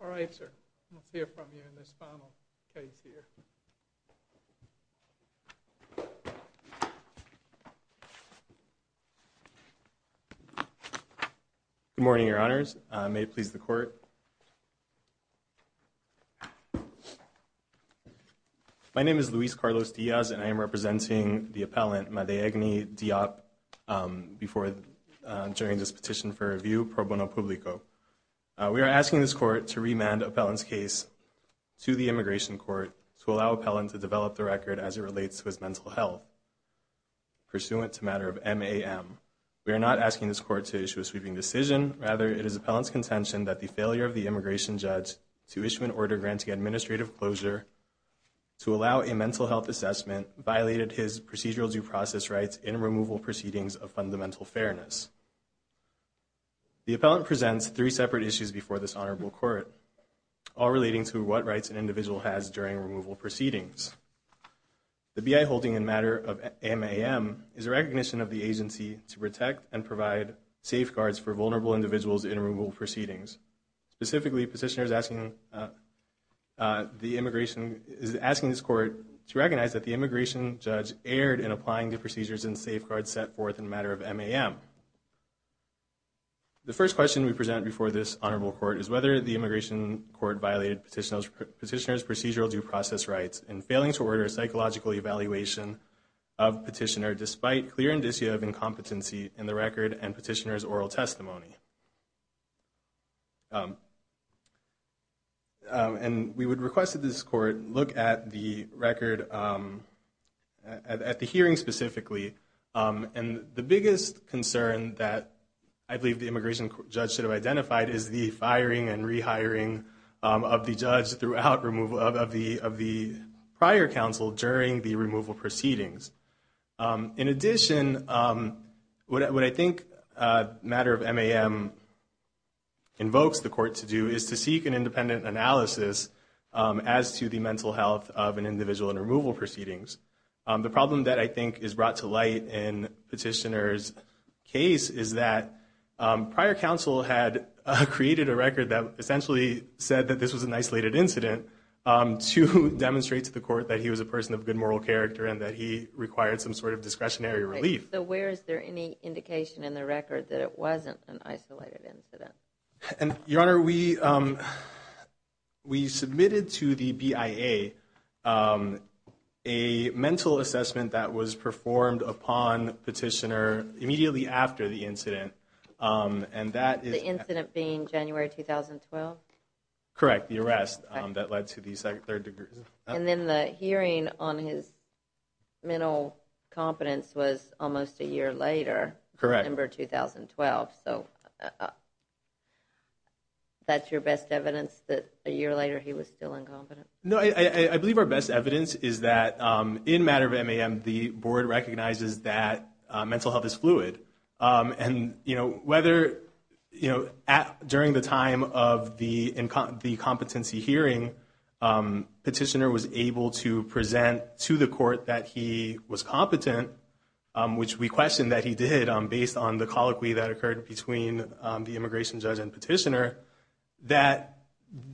All right, sir, let's hear from you in this final case here. Good morning, Your Honors. May it please the Court. My name is Luis Carlos Diaz, and I am representing the appellant Madiagne Diop during this petition for review, pro bono publico. We are asking this Court to remand Appellant's case to the Immigration Court to allow Appellant to develop the record as it relates to his mental health, pursuant to matter of MAM. We are not asking this Court to issue a sweeping decision. Rather, it is Appellant's contention that the failure of the immigration judge to issue an order granting administrative closure to allow a mental health assessment violated his procedural due process rights in removal proceedings of fundamental fairness. The appellant presents three separate issues before this honorable court, all relating to what rights an individual has during removal proceedings. The B.I. holding in matter of MAM is a recognition of the agency to protect and provide safeguards for vulnerable individuals in removal proceedings. Specifically, petitioners asking the immigration is asking this court to recognize that the immigration judge erred in applying the procedures and safeguards set forth in matter of MAM. The first question we present before this honorable court is whether the immigration court violated petitioner's procedural due process rights in failing to order a psychological evaluation of petitioner despite clear indicia of incompetency in the record and petitioner's oral testimony. And we would request that this court look at the record, at the hearing specifically. And the biggest concern that I believe the immigration judge should have identified is the firing and rehiring of the judge throughout removal of the prior counsel during the removal proceedings. In addition, what I think matter of MAM invokes the court to do is to seek an independent analysis as to the mental health of an individual in removal proceedings. The problem that I think is brought to light in petitioner's case is that prior counsel had created a record that essentially said that this was an isolated incident to demonstrate to the court that he was a person of good moral character and that he was a person of good moral character. And that required some sort of discretionary relief. So where is there any indication in the record that it wasn't an isolated incident? Your Honor, we submitted to the BIA a mental assessment that was performed upon petitioner immediately after the incident. The incident being January 2012? Correct, the arrest that led to the third degree assault. And then the hearing on his mental competence was almost a year later, November 2012. So that's your best evidence that a year later he was still incompetent? No, I believe our best evidence is that in matter of MAM, the board recognizes that mental health is fluid. And whether during the time of the competency hearing, petitioner was able to present to the court that he was competent, which we question that he did based on the colloquy that occurred between the immigration judge and petitioner, that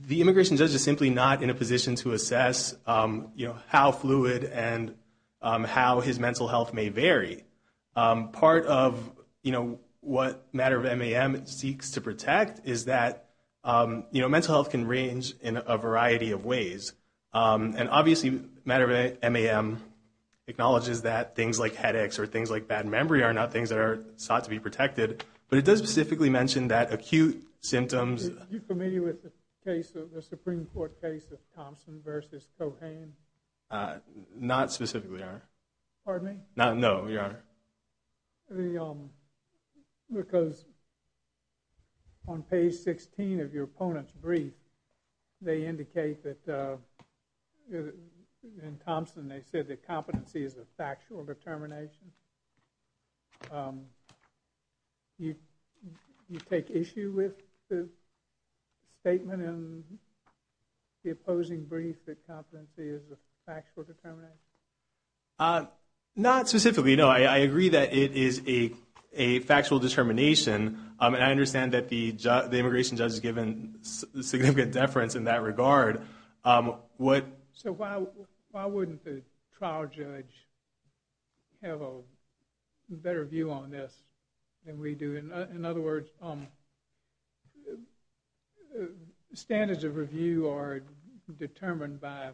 the immigration judge is simply not in a position to assess how fluid and how his mental health may vary. Part of what matter of MAM seeks to protect is that mental health can range in a variety of ways. And obviously matter of MAM acknowledges that things like headaches or things like bad memory are not things that are sought to be protected. But it does specifically mention that acute symptoms... Are you familiar with the Supreme Court case of Thompson v. Cohan? Not specifically, Your Honor. Pardon me? No, Your Honor. Because on page 16 of your opponent's brief, they indicate that in Thompson they said that competency is a factual determination. Do you take issue with the statement in the opposing brief that competency is a factual determination? Not specifically, no. I agree that it is a factual determination. And I understand that the immigration judge has given significant deference in that regard. So why wouldn't the trial judge have a better view on this than we do? In other words, standards of review are determined by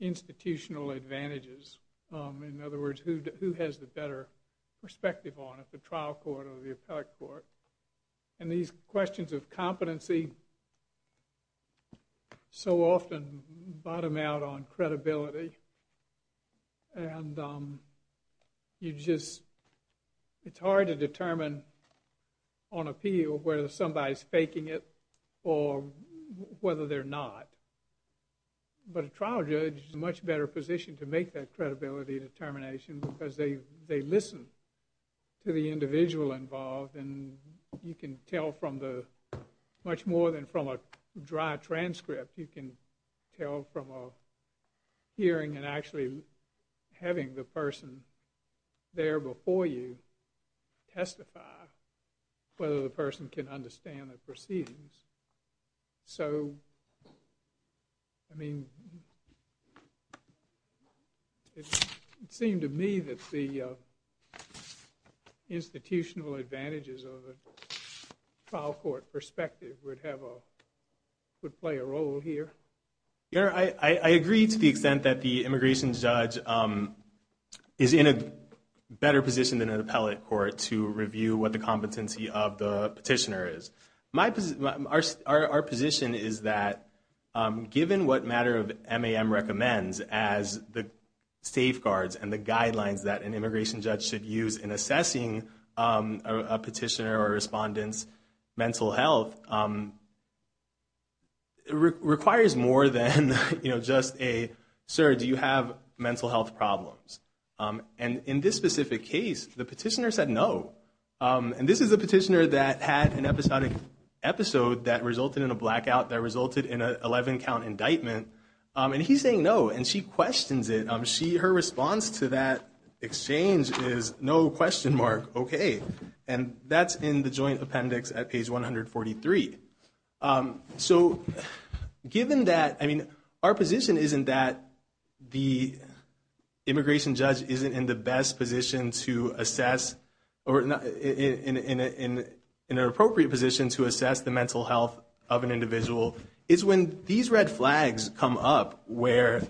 institutional advantages. In other words, who has the better perspective on it, the trial court or the appellate court? And these questions of competency so often bottom out on credibility. And you just... It's hard to determine on appeal whether somebody's faking it or whether they're not. But a trial judge is in a much better position to make that credibility determination because they listen to the individual involved. And you can tell from the... much more than from a dry transcript. You can tell from a hearing and actually having the person there before you testify whether the person can understand the proceedings. So, I mean... It seemed to me that the institutional advantages of a trial court perspective would have a... would play a role here. I agree to the extent that the immigration judge is in a better position than an appellate court to review what the competency of the petitioner is. Our position is that given what matter of MAM recommends as the safeguards and the guidelines that an immigration judge should use in assessing a petitioner or a respondent's mental health, it requires more than just a, sir, do you have mental health problems? And in this specific case, the petitioner said no. And this is a petitioner that had an episodic episode that resulted in a blackout that resulted in an 11 count indictment. And he's saying no. And she questions it. Her response to that exchange is no question mark, okay. And that's in the joint appendix at page 143. So, given that, I mean, our position isn't that the immigration judge isn't in the best position to assess or in an appropriate position to assess the mental health of an individual. It's when these red flags come up where,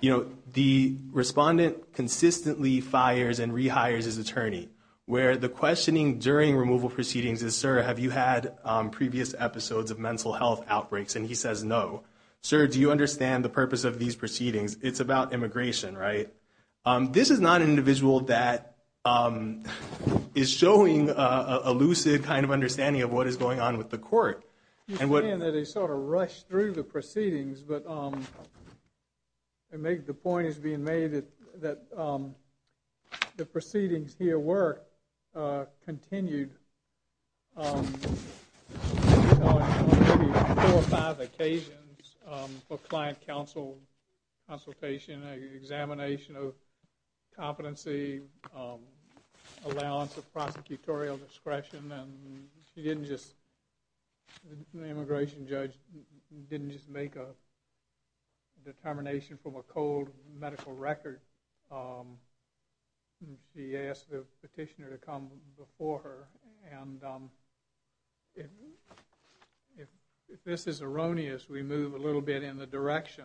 you know, the respondent consistently fires and rehires his attorney, where the questioning during removal proceedings is, sir, have you had previous episodes of mental health outbreaks? And he says no. Sir, do you understand the purpose of these proceedings? It's about immigration, right? This is not an individual that is showing a lucid kind of understanding of what is going on with the court. You're saying that he sort of rushed through the proceedings, but the point is being made that the proceedings here were continued on maybe four or five occasions for client consultation, examination of competency, allowance of prosecutorial discretion, and she didn't just, the immigration judge didn't just make a determination from a cold medical record. She asked the petitioner to come before her, and if this is erroneous, we move a little bit in the direction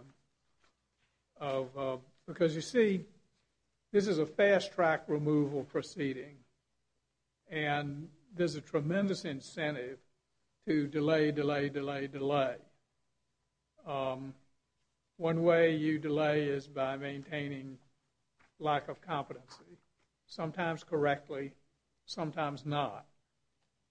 of, because you see, this is a fast-track removal proceeding, and there's a tremendous incentive to delay, delay, delay, delay. One way you delay is by maintaining lack of competency, sometimes correctly, sometimes not.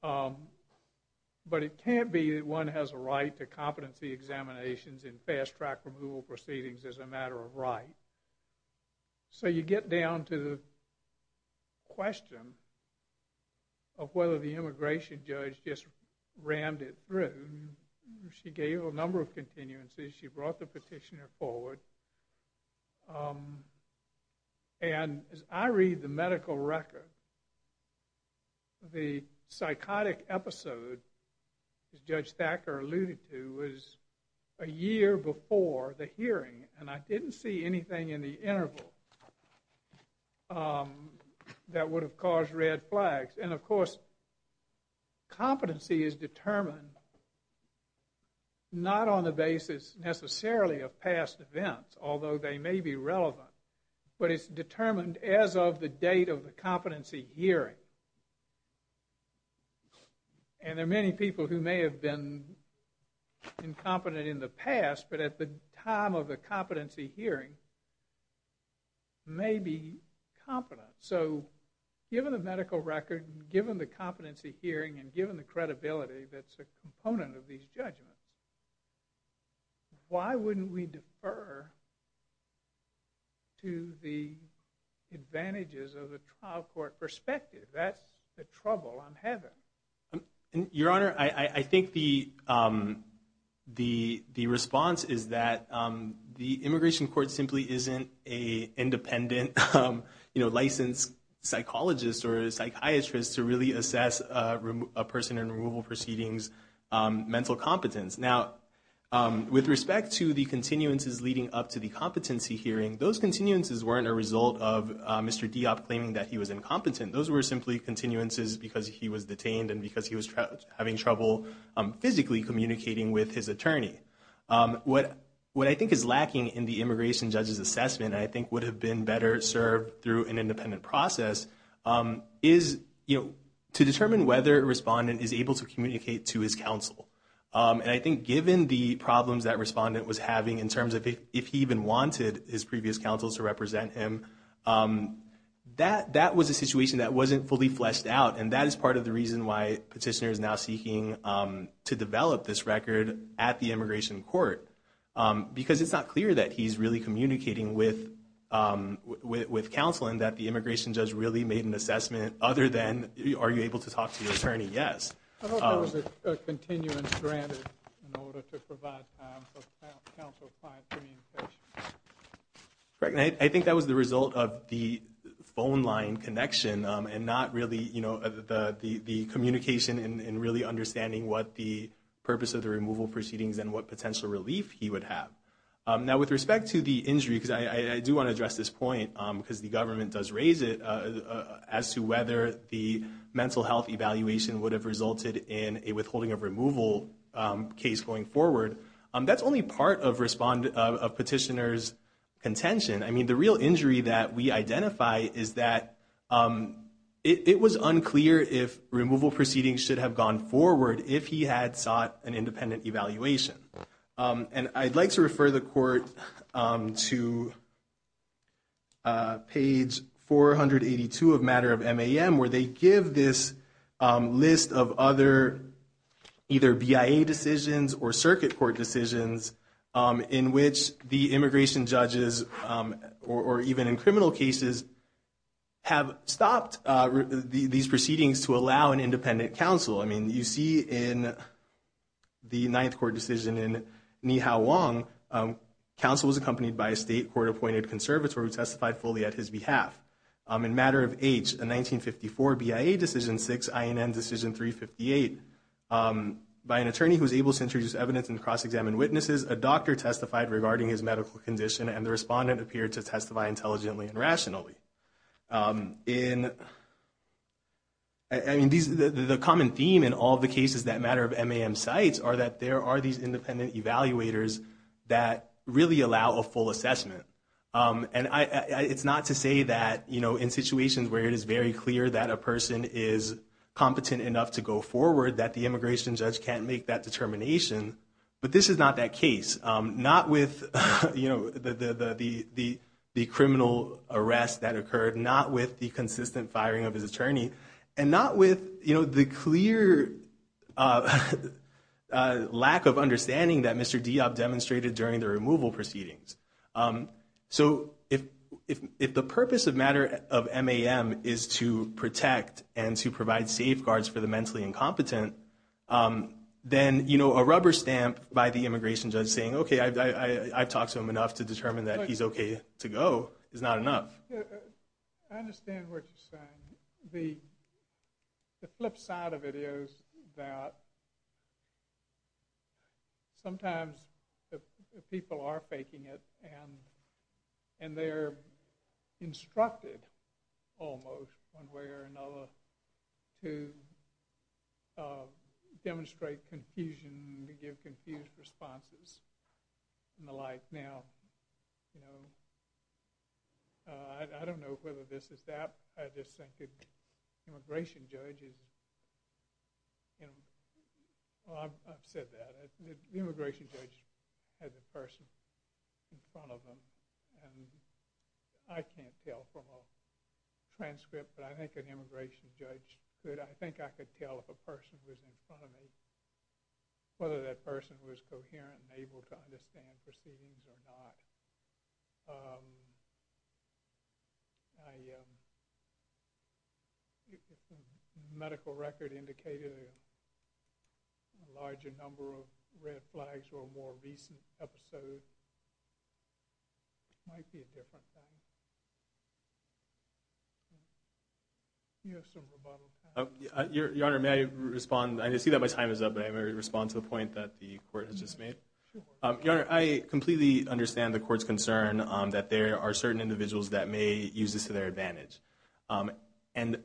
But it can't be that one has a right to competency examinations in fast-track removal proceedings as a matter of right. So you get down to the question of whether the immigration judge just rammed it through. She gave a number of continuances. She brought the petitioner forward, and as I read the medical record, the psychotic episode, as Judge Thacker alluded to, was a year before the hearing, and I didn't see anything in the interval that would have caused red flags. And, of course, competency is determined not on the basis necessarily of past events, although they may be relevant, but it's determined as of the date of the competency hearing. And there are many people who may have been incompetent in the past, but at the time of the competency hearing, may be competent. So given the medical record, given the competency hearing, and given the credibility that's a component of these judgments, why wouldn't we defer to the advantages of the trial court perspective? That's the trouble I'm having. Your Honor, I think the response is that the immigration court simply isn't an independent licensed psychologist or a psychiatrist to really assess a person in removal proceedings' mental competence. Now, with respect to the continuances leading up to the competency hearing, those continuances weren't a result of Mr. Deop claiming that he was incompetent. Those were simply continuances because he was detained and because he was having trouble physically communicating with his attorney. What I think is lacking in the immigration judge's assessment, and I think would have been better served through an independent process, is to determine whether a respondent is able to communicate to his counsel. And I think given the problems that respondent was having in terms of if he even wanted his previous counsel to represent him, that was a situation that wasn't fully fleshed out. And that is part of the reason why petitioner is now seeking to develop this record at the immigration court, because it's not clear that he's really communicating with counsel and that the immigration judge really made an assessment other than, are you able to talk to your attorney? Yes. I hope that was a continuance granted in order to provide time for counsel to find communication. Correct. And I think that was the result of the phone line connection and not really the communication and really understanding what the purpose of the removal proceedings and what potential relief he would have. Now, with respect to the injury, because I do want to address this point, because the government does raise it, as to whether the mental health evaluation would have resulted in a withholding of removal case going forward. That's only part of petitioner's contention. I mean, the real injury that we identify is that it was unclear if removal proceedings should have gone forward if he had sought an independent evaluation. And I'd like to refer the court to page 482 of matter of MAM, where they give this list of other either BIA decisions or circuit court decisions in which the immigration judges, or even in criminal cases, have stopped these proceedings to allow an independent counsel. I mean, you see in the ninth court decision in Ni Hao Wong, counsel was accompanied by a state court-appointed conservator who testified fully at his behalf. In matter of H, a 1954 BIA decision 6, INN decision 358, by an attorney who was able to introduce evidence and cross-examine witnesses, a doctor testified regarding his medical condition, and the respondent appeared to testify intelligently and rationally. I mean, the common theme in all the cases that matter of MAM cites are that there are these independent evaluators that really allow a full assessment. And it's not to say that, you know, in situations where it is very clear that a person is competent enough to go forward, that the immigration judge can't make that determination, but this is not that case. Not with, you know, the criminal arrest that occurred, not with the consistent firing of his attorney, and not with, you know, the clear lack of understanding that Mr. Diop demonstrated during the removal proceedings. So if the purpose of matter of MAM is to protect and to provide safeguards for the mentally incompetent, then, you know, a rubber stamp by the immigration judge saying, okay, I've talked to him enough to determine that he's okay to go is not enough. I understand what you're saying. The flip side of it is that sometimes people are faking it, and they're instructed almost one way or another to demonstrate confusion, to give confused responses, and the like. Now, you know, I don't know whether this is that. I just think the immigration judge is, you know, I've said that. The immigration judge has a person in front of him, and I can't tell from a transcript, but I think an immigration judge could. I think I could tell if a person was in front of me, whether that person was coherent and able to understand proceedings or not. I think the medical record indicated a larger number of red flags were more recent episodes. It might be a different time. You have some rebuttal time. Your Honor, may I respond? I see that my time is up, but I may respond to the point that the Court has just made. Your Honor, I completely understand the Court's concern that there are certain individuals that may use this to their advantage. And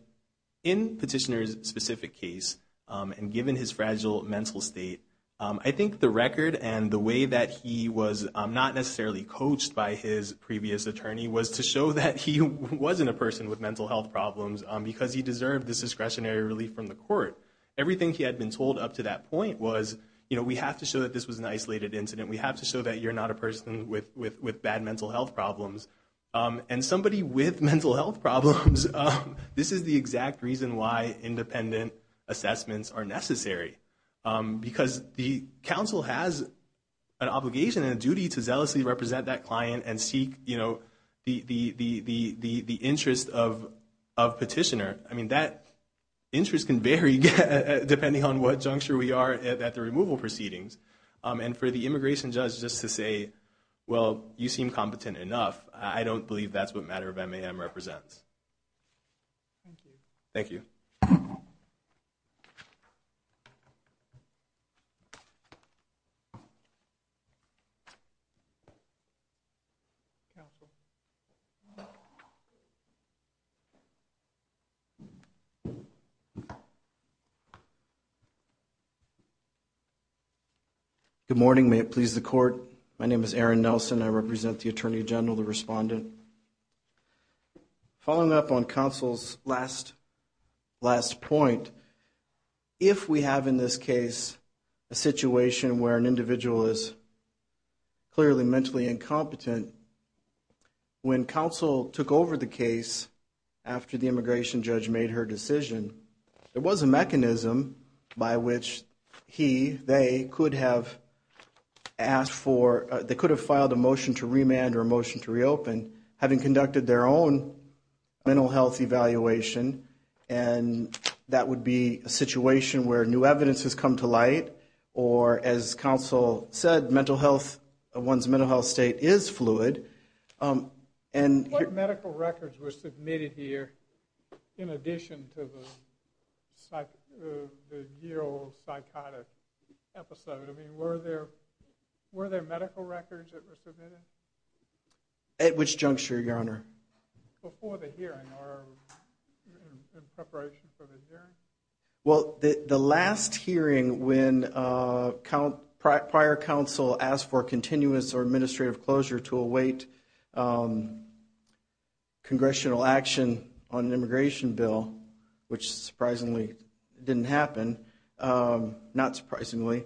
in Petitioner's specific case, and given his fragile mental state, I think the record and the way that he was not necessarily coached by his previous attorney was to show that he wasn't a person with mental health problems because he deserved this discretionary relief from the Court. Everything he had been told up to that point was, you know, we have to show that this was an isolated incident. We have to show that you're not a person with bad mental health problems. And somebody with mental health problems, this is the exact reason why independent assessments are necessary, because the counsel has an obligation and a duty to zealously represent that client and seek the interest of Petitioner. I mean, that interest can vary depending on what juncture we are at the removal proceedings. And for the immigration judge just to say, well, you seem competent enough, I don't believe that's what matter of MAM represents. Thank you. Thank you. Good morning. May it please the Court. My name is Aaron Nelson. I represent the Attorney General, the respondent. Following up on counsel's last point, if we have in this case a situation where an individual is clearly mentally incompetent, when counsel took over the case after the immigration judge made her decision, there was a mechanism by which he, they could have asked for, they could have filed a motion to remand or a motion to reopen, having conducted their own mental health evaluation. And that would be a situation where new evidence has come to light, or as counsel said, mental health, one's mental health state is fluid. What medical records were submitted here in addition to the year-old psychotic episode? I mean, were there medical records that were submitted? At which juncture, Your Honor? Before the hearing or in preparation for the hearing? Well, the last hearing when prior counsel asked for continuous or administrative closure to await congressional action on an immigration bill, which surprisingly didn't happen, not surprisingly,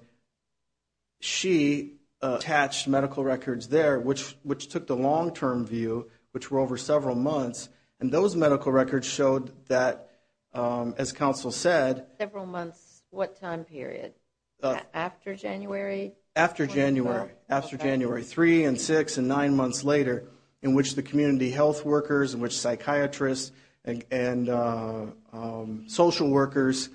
she attached medical records there, which took the long-term view, which were over several months. And those medical records showed that, as counsel said, Several months, what time period? After January? After January, after January 3 and 6 and 9 months later, in which the community health workers, in which psychiatrists and social workers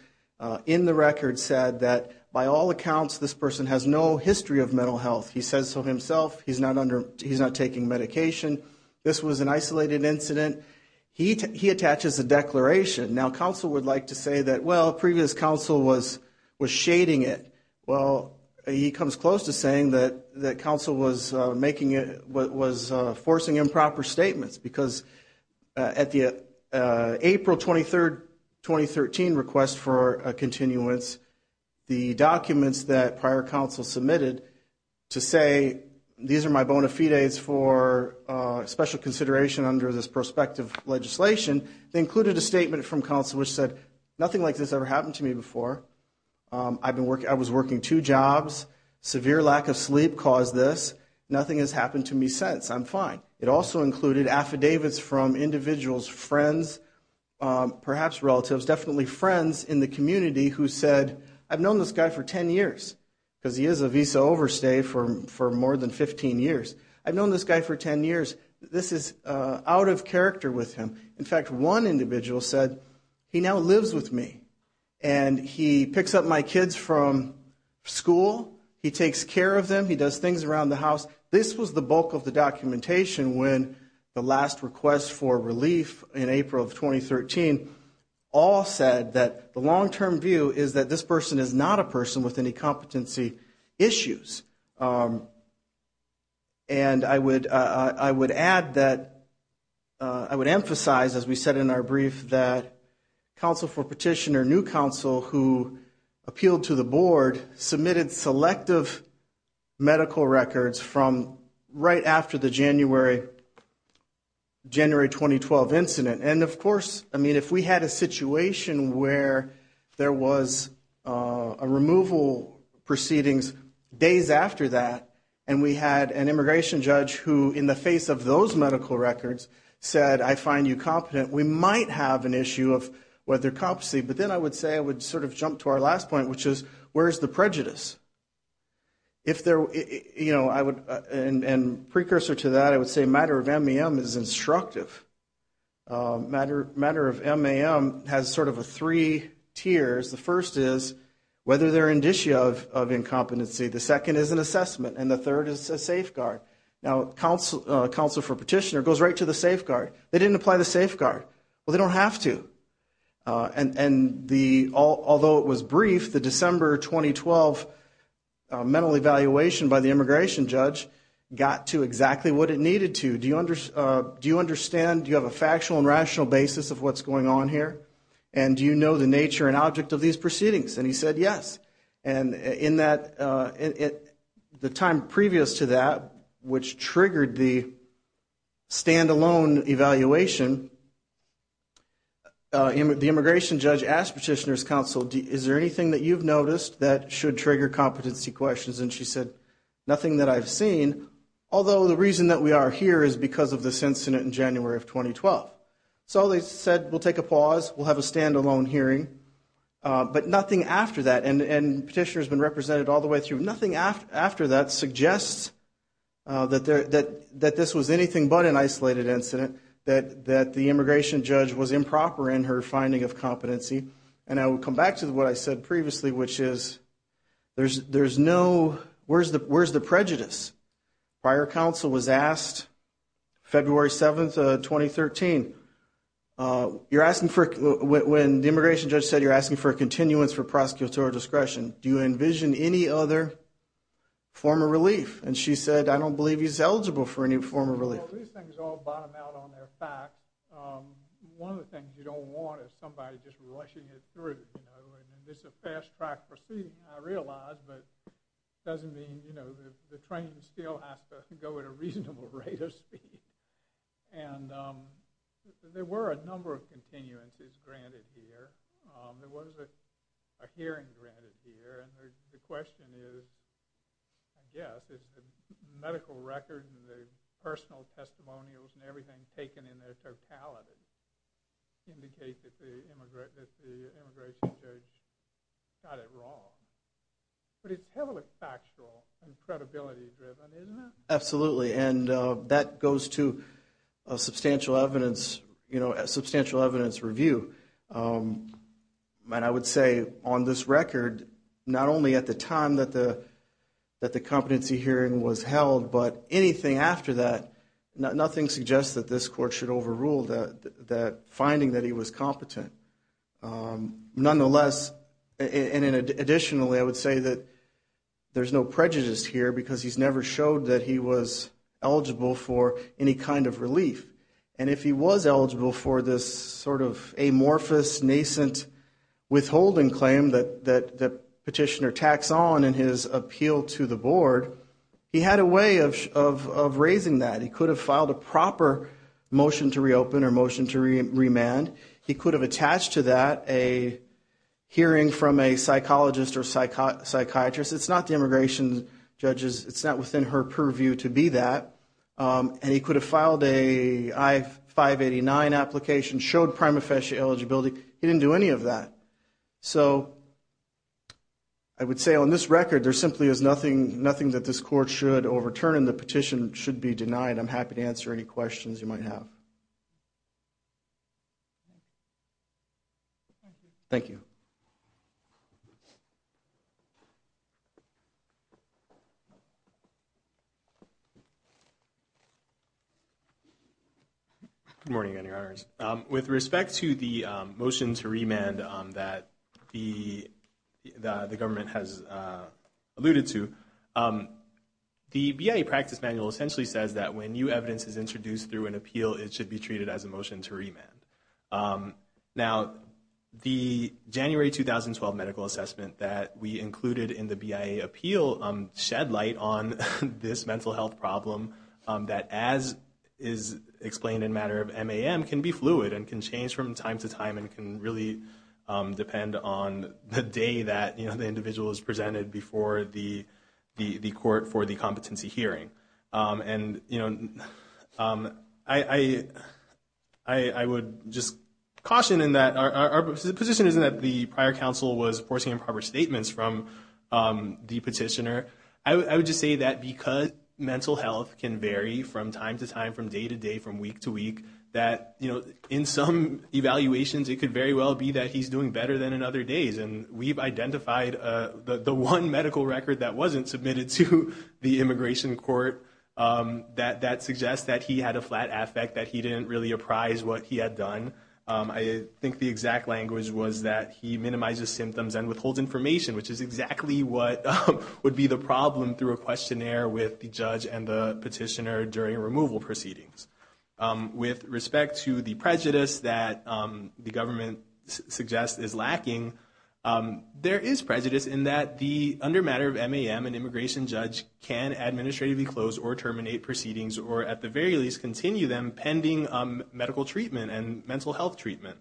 in the records said that by all accounts, this person has no history of mental health. He says so himself. He's not under, he's not taking medication. This was an isolated incident. He attaches a declaration. Now, counsel would like to say that, well, previous counsel was shading it. Well, he comes close to saying that counsel was making, was forcing improper statements because at the April 23, 2013 request for a continuance, the documents that prior counsel submitted to say, these are my bona fides for special consideration under this prospective legislation, they included a statement from counsel which said, nothing like this ever happened to me before. I've been working, I was working two jobs. Severe lack of sleep caused this. Nothing has happened to me since. I'm fine. It also included affidavits from individuals, friends, perhaps relatives, definitely friends in the community who said, I've known this guy for 10 years because he is a visa overstay for more than 15 years. I've known this guy for 10 years. This is out of character with him. In fact, one individual said, he now lives with me and he picks up my kids from school. He takes care of them. He does things around the house. This was the bulk of the documentation when the last request for relief in April of 2013, all said that the long-term view is that this person is not a person with any competency issues. And I would add that, I would emphasize, as we said in our brief, that counsel for petitioner, who appealed to the board, submitted selective medical records from right after the January 2012 incident. And of course, I mean, if we had a situation where there was a removal proceedings days after that, and we had an immigration judge who, in the face of those medical records, said, I find you competent, we might have an issue of whether competency. But then I would say, I would sort of jump to our last point, which is, where is the prejudice? If there, you know, I would, and precursor to that, I would say matter of MEM is instructive. Matter of MEM has sort of a three tiers. The first is whether they're indicia of incompetency. The second is an assessment. And the third is a safeguard. Now, counsel for petitioner goes right to the safeguard. They didn't apply the safeguard. Well, they don't have to. And the, although it was brief, the December 2012 mental evaluation by the immigration judge got to exactly what it needed to. Do you understand, do you have a factual and rational basis of what's going on here? And do you know the nature and object of these proceedings? And he said, yes. And in that, the time previous to that, which triggered the stand-alone evaluation, the immigration judge asked petitioner's counsel, is there anything that you've noticed that should trigger competency questions? And she said, nothing that I've seen, although the reason that we are here is because of this incident in January of 2012. So they said, we'll take a pause. We'll have a stand-alone hearing. But nothing after that, and petitioner's been represented all the way through, nothing after that suggests that this was anything but an isolated incident, that the immigration judge was improper in her finding of competency. And I will come back to what I said previously, which is there's no, where's the prejudice? Prior counsel was asked, February 7th, 2013, you're asking for, when the immigration judge said you're asking for a continuance for prosecutorial discretion, do you envision any other form of relief? And she said, I don't believe he's eligible for any form of relief. Well, these things all bottom out on their facts. One of the things you don't want is somebody just rushing it through, you know. And this is a fast-track proceeding, I realize, but it doesn't mean, you know, the train still has to go at a reasonable rate of speed. And there were a number of continuances granted here. There was a hearing granted here. And the question is, I guess, is the medical record and the personal testimonials and everything taken in their totality indicate that the immigration judge got it wrong? But it's heavily factual and credibility-driven, isn't it? Absolutely. And that goes to a substantial evidence, you know, a substantial evidence review. And I would say, on this record, not only at the time that the competency hearing was held, but anything after that, nothing suggests that this court should overrule that finding that he was competent. Nonetheless, and additionally, I would say that there's no prejudice here because he's never showed that he was eligible for any kind of relief. And if he was eligible for this sort of amorphous, nascent withholding claim that Petitioner tacks on in his appeal to the board, he had a way of raising that. He could have filed a proper motion to reopen or motion to remand. He could have attached to that a hearing from a psychologist or psychiatrist. It's not the immigration judge's, it's not within her purview to be that. And he could have filed a I-589 application, showed prima facie eligibility. He didn't do any of that. So I would say on this record, there simply is nothing that this court should overturn and the petition should be denied. I'm happy to answer any questions you might have. Thank you. Good morning, Your Honors. With respect to the motion to remand that the government has alluded to, the BIA practice manual essentially says that when new evidence is introduced through an appeal, it should be treated as a motion to remand. Now, the January 2012 medical assessment that we included in the BIA appeal shed light on this mental health problem that, as is explained in matter of MAM, can be fluid and can change from time to time and can really depend on the day that the individual is presented before the court for the competency hearing. And I would just caution in that our position is that the prior counsel was forcing improper statements from the petitioner. I would just say that because mental health can vary from time to time, from day to day, from week to week, that in some evaluations, it could very well be that he's doing better than in other days. And we've identified the one medical record that wasn't submitted to the immigration court that suggests that he had a flat affect, that he didn't really apprise what he had done. I think the exact language was that he minimizes symptoms and withholds information, which is exactly what would be the problem through a questionnaire with the judge and the petitioner during removal proceedings. With respect to the prejudice that the government suggests is lacking, there is prejudice in that the, under matter of MAM, an immigration judge can administratively close or terminate proceedings or, at the very least, continue them pending medical treatment and mental health treatment.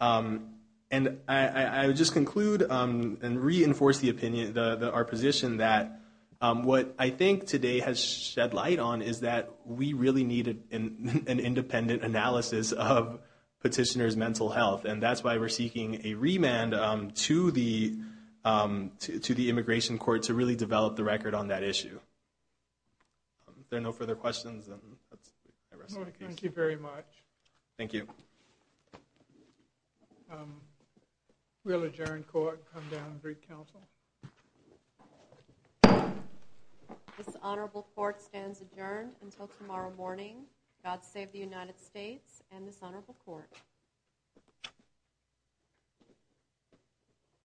And I would just conclude and reinforce the opinion, our position that what I think today has shed light on is that we really need an independent analysis of petitioner's mental health. And that's why we're seeking a remand to the immigration court to really develop the record on that issue. Are there no further questions? Thank you very much. Thank you.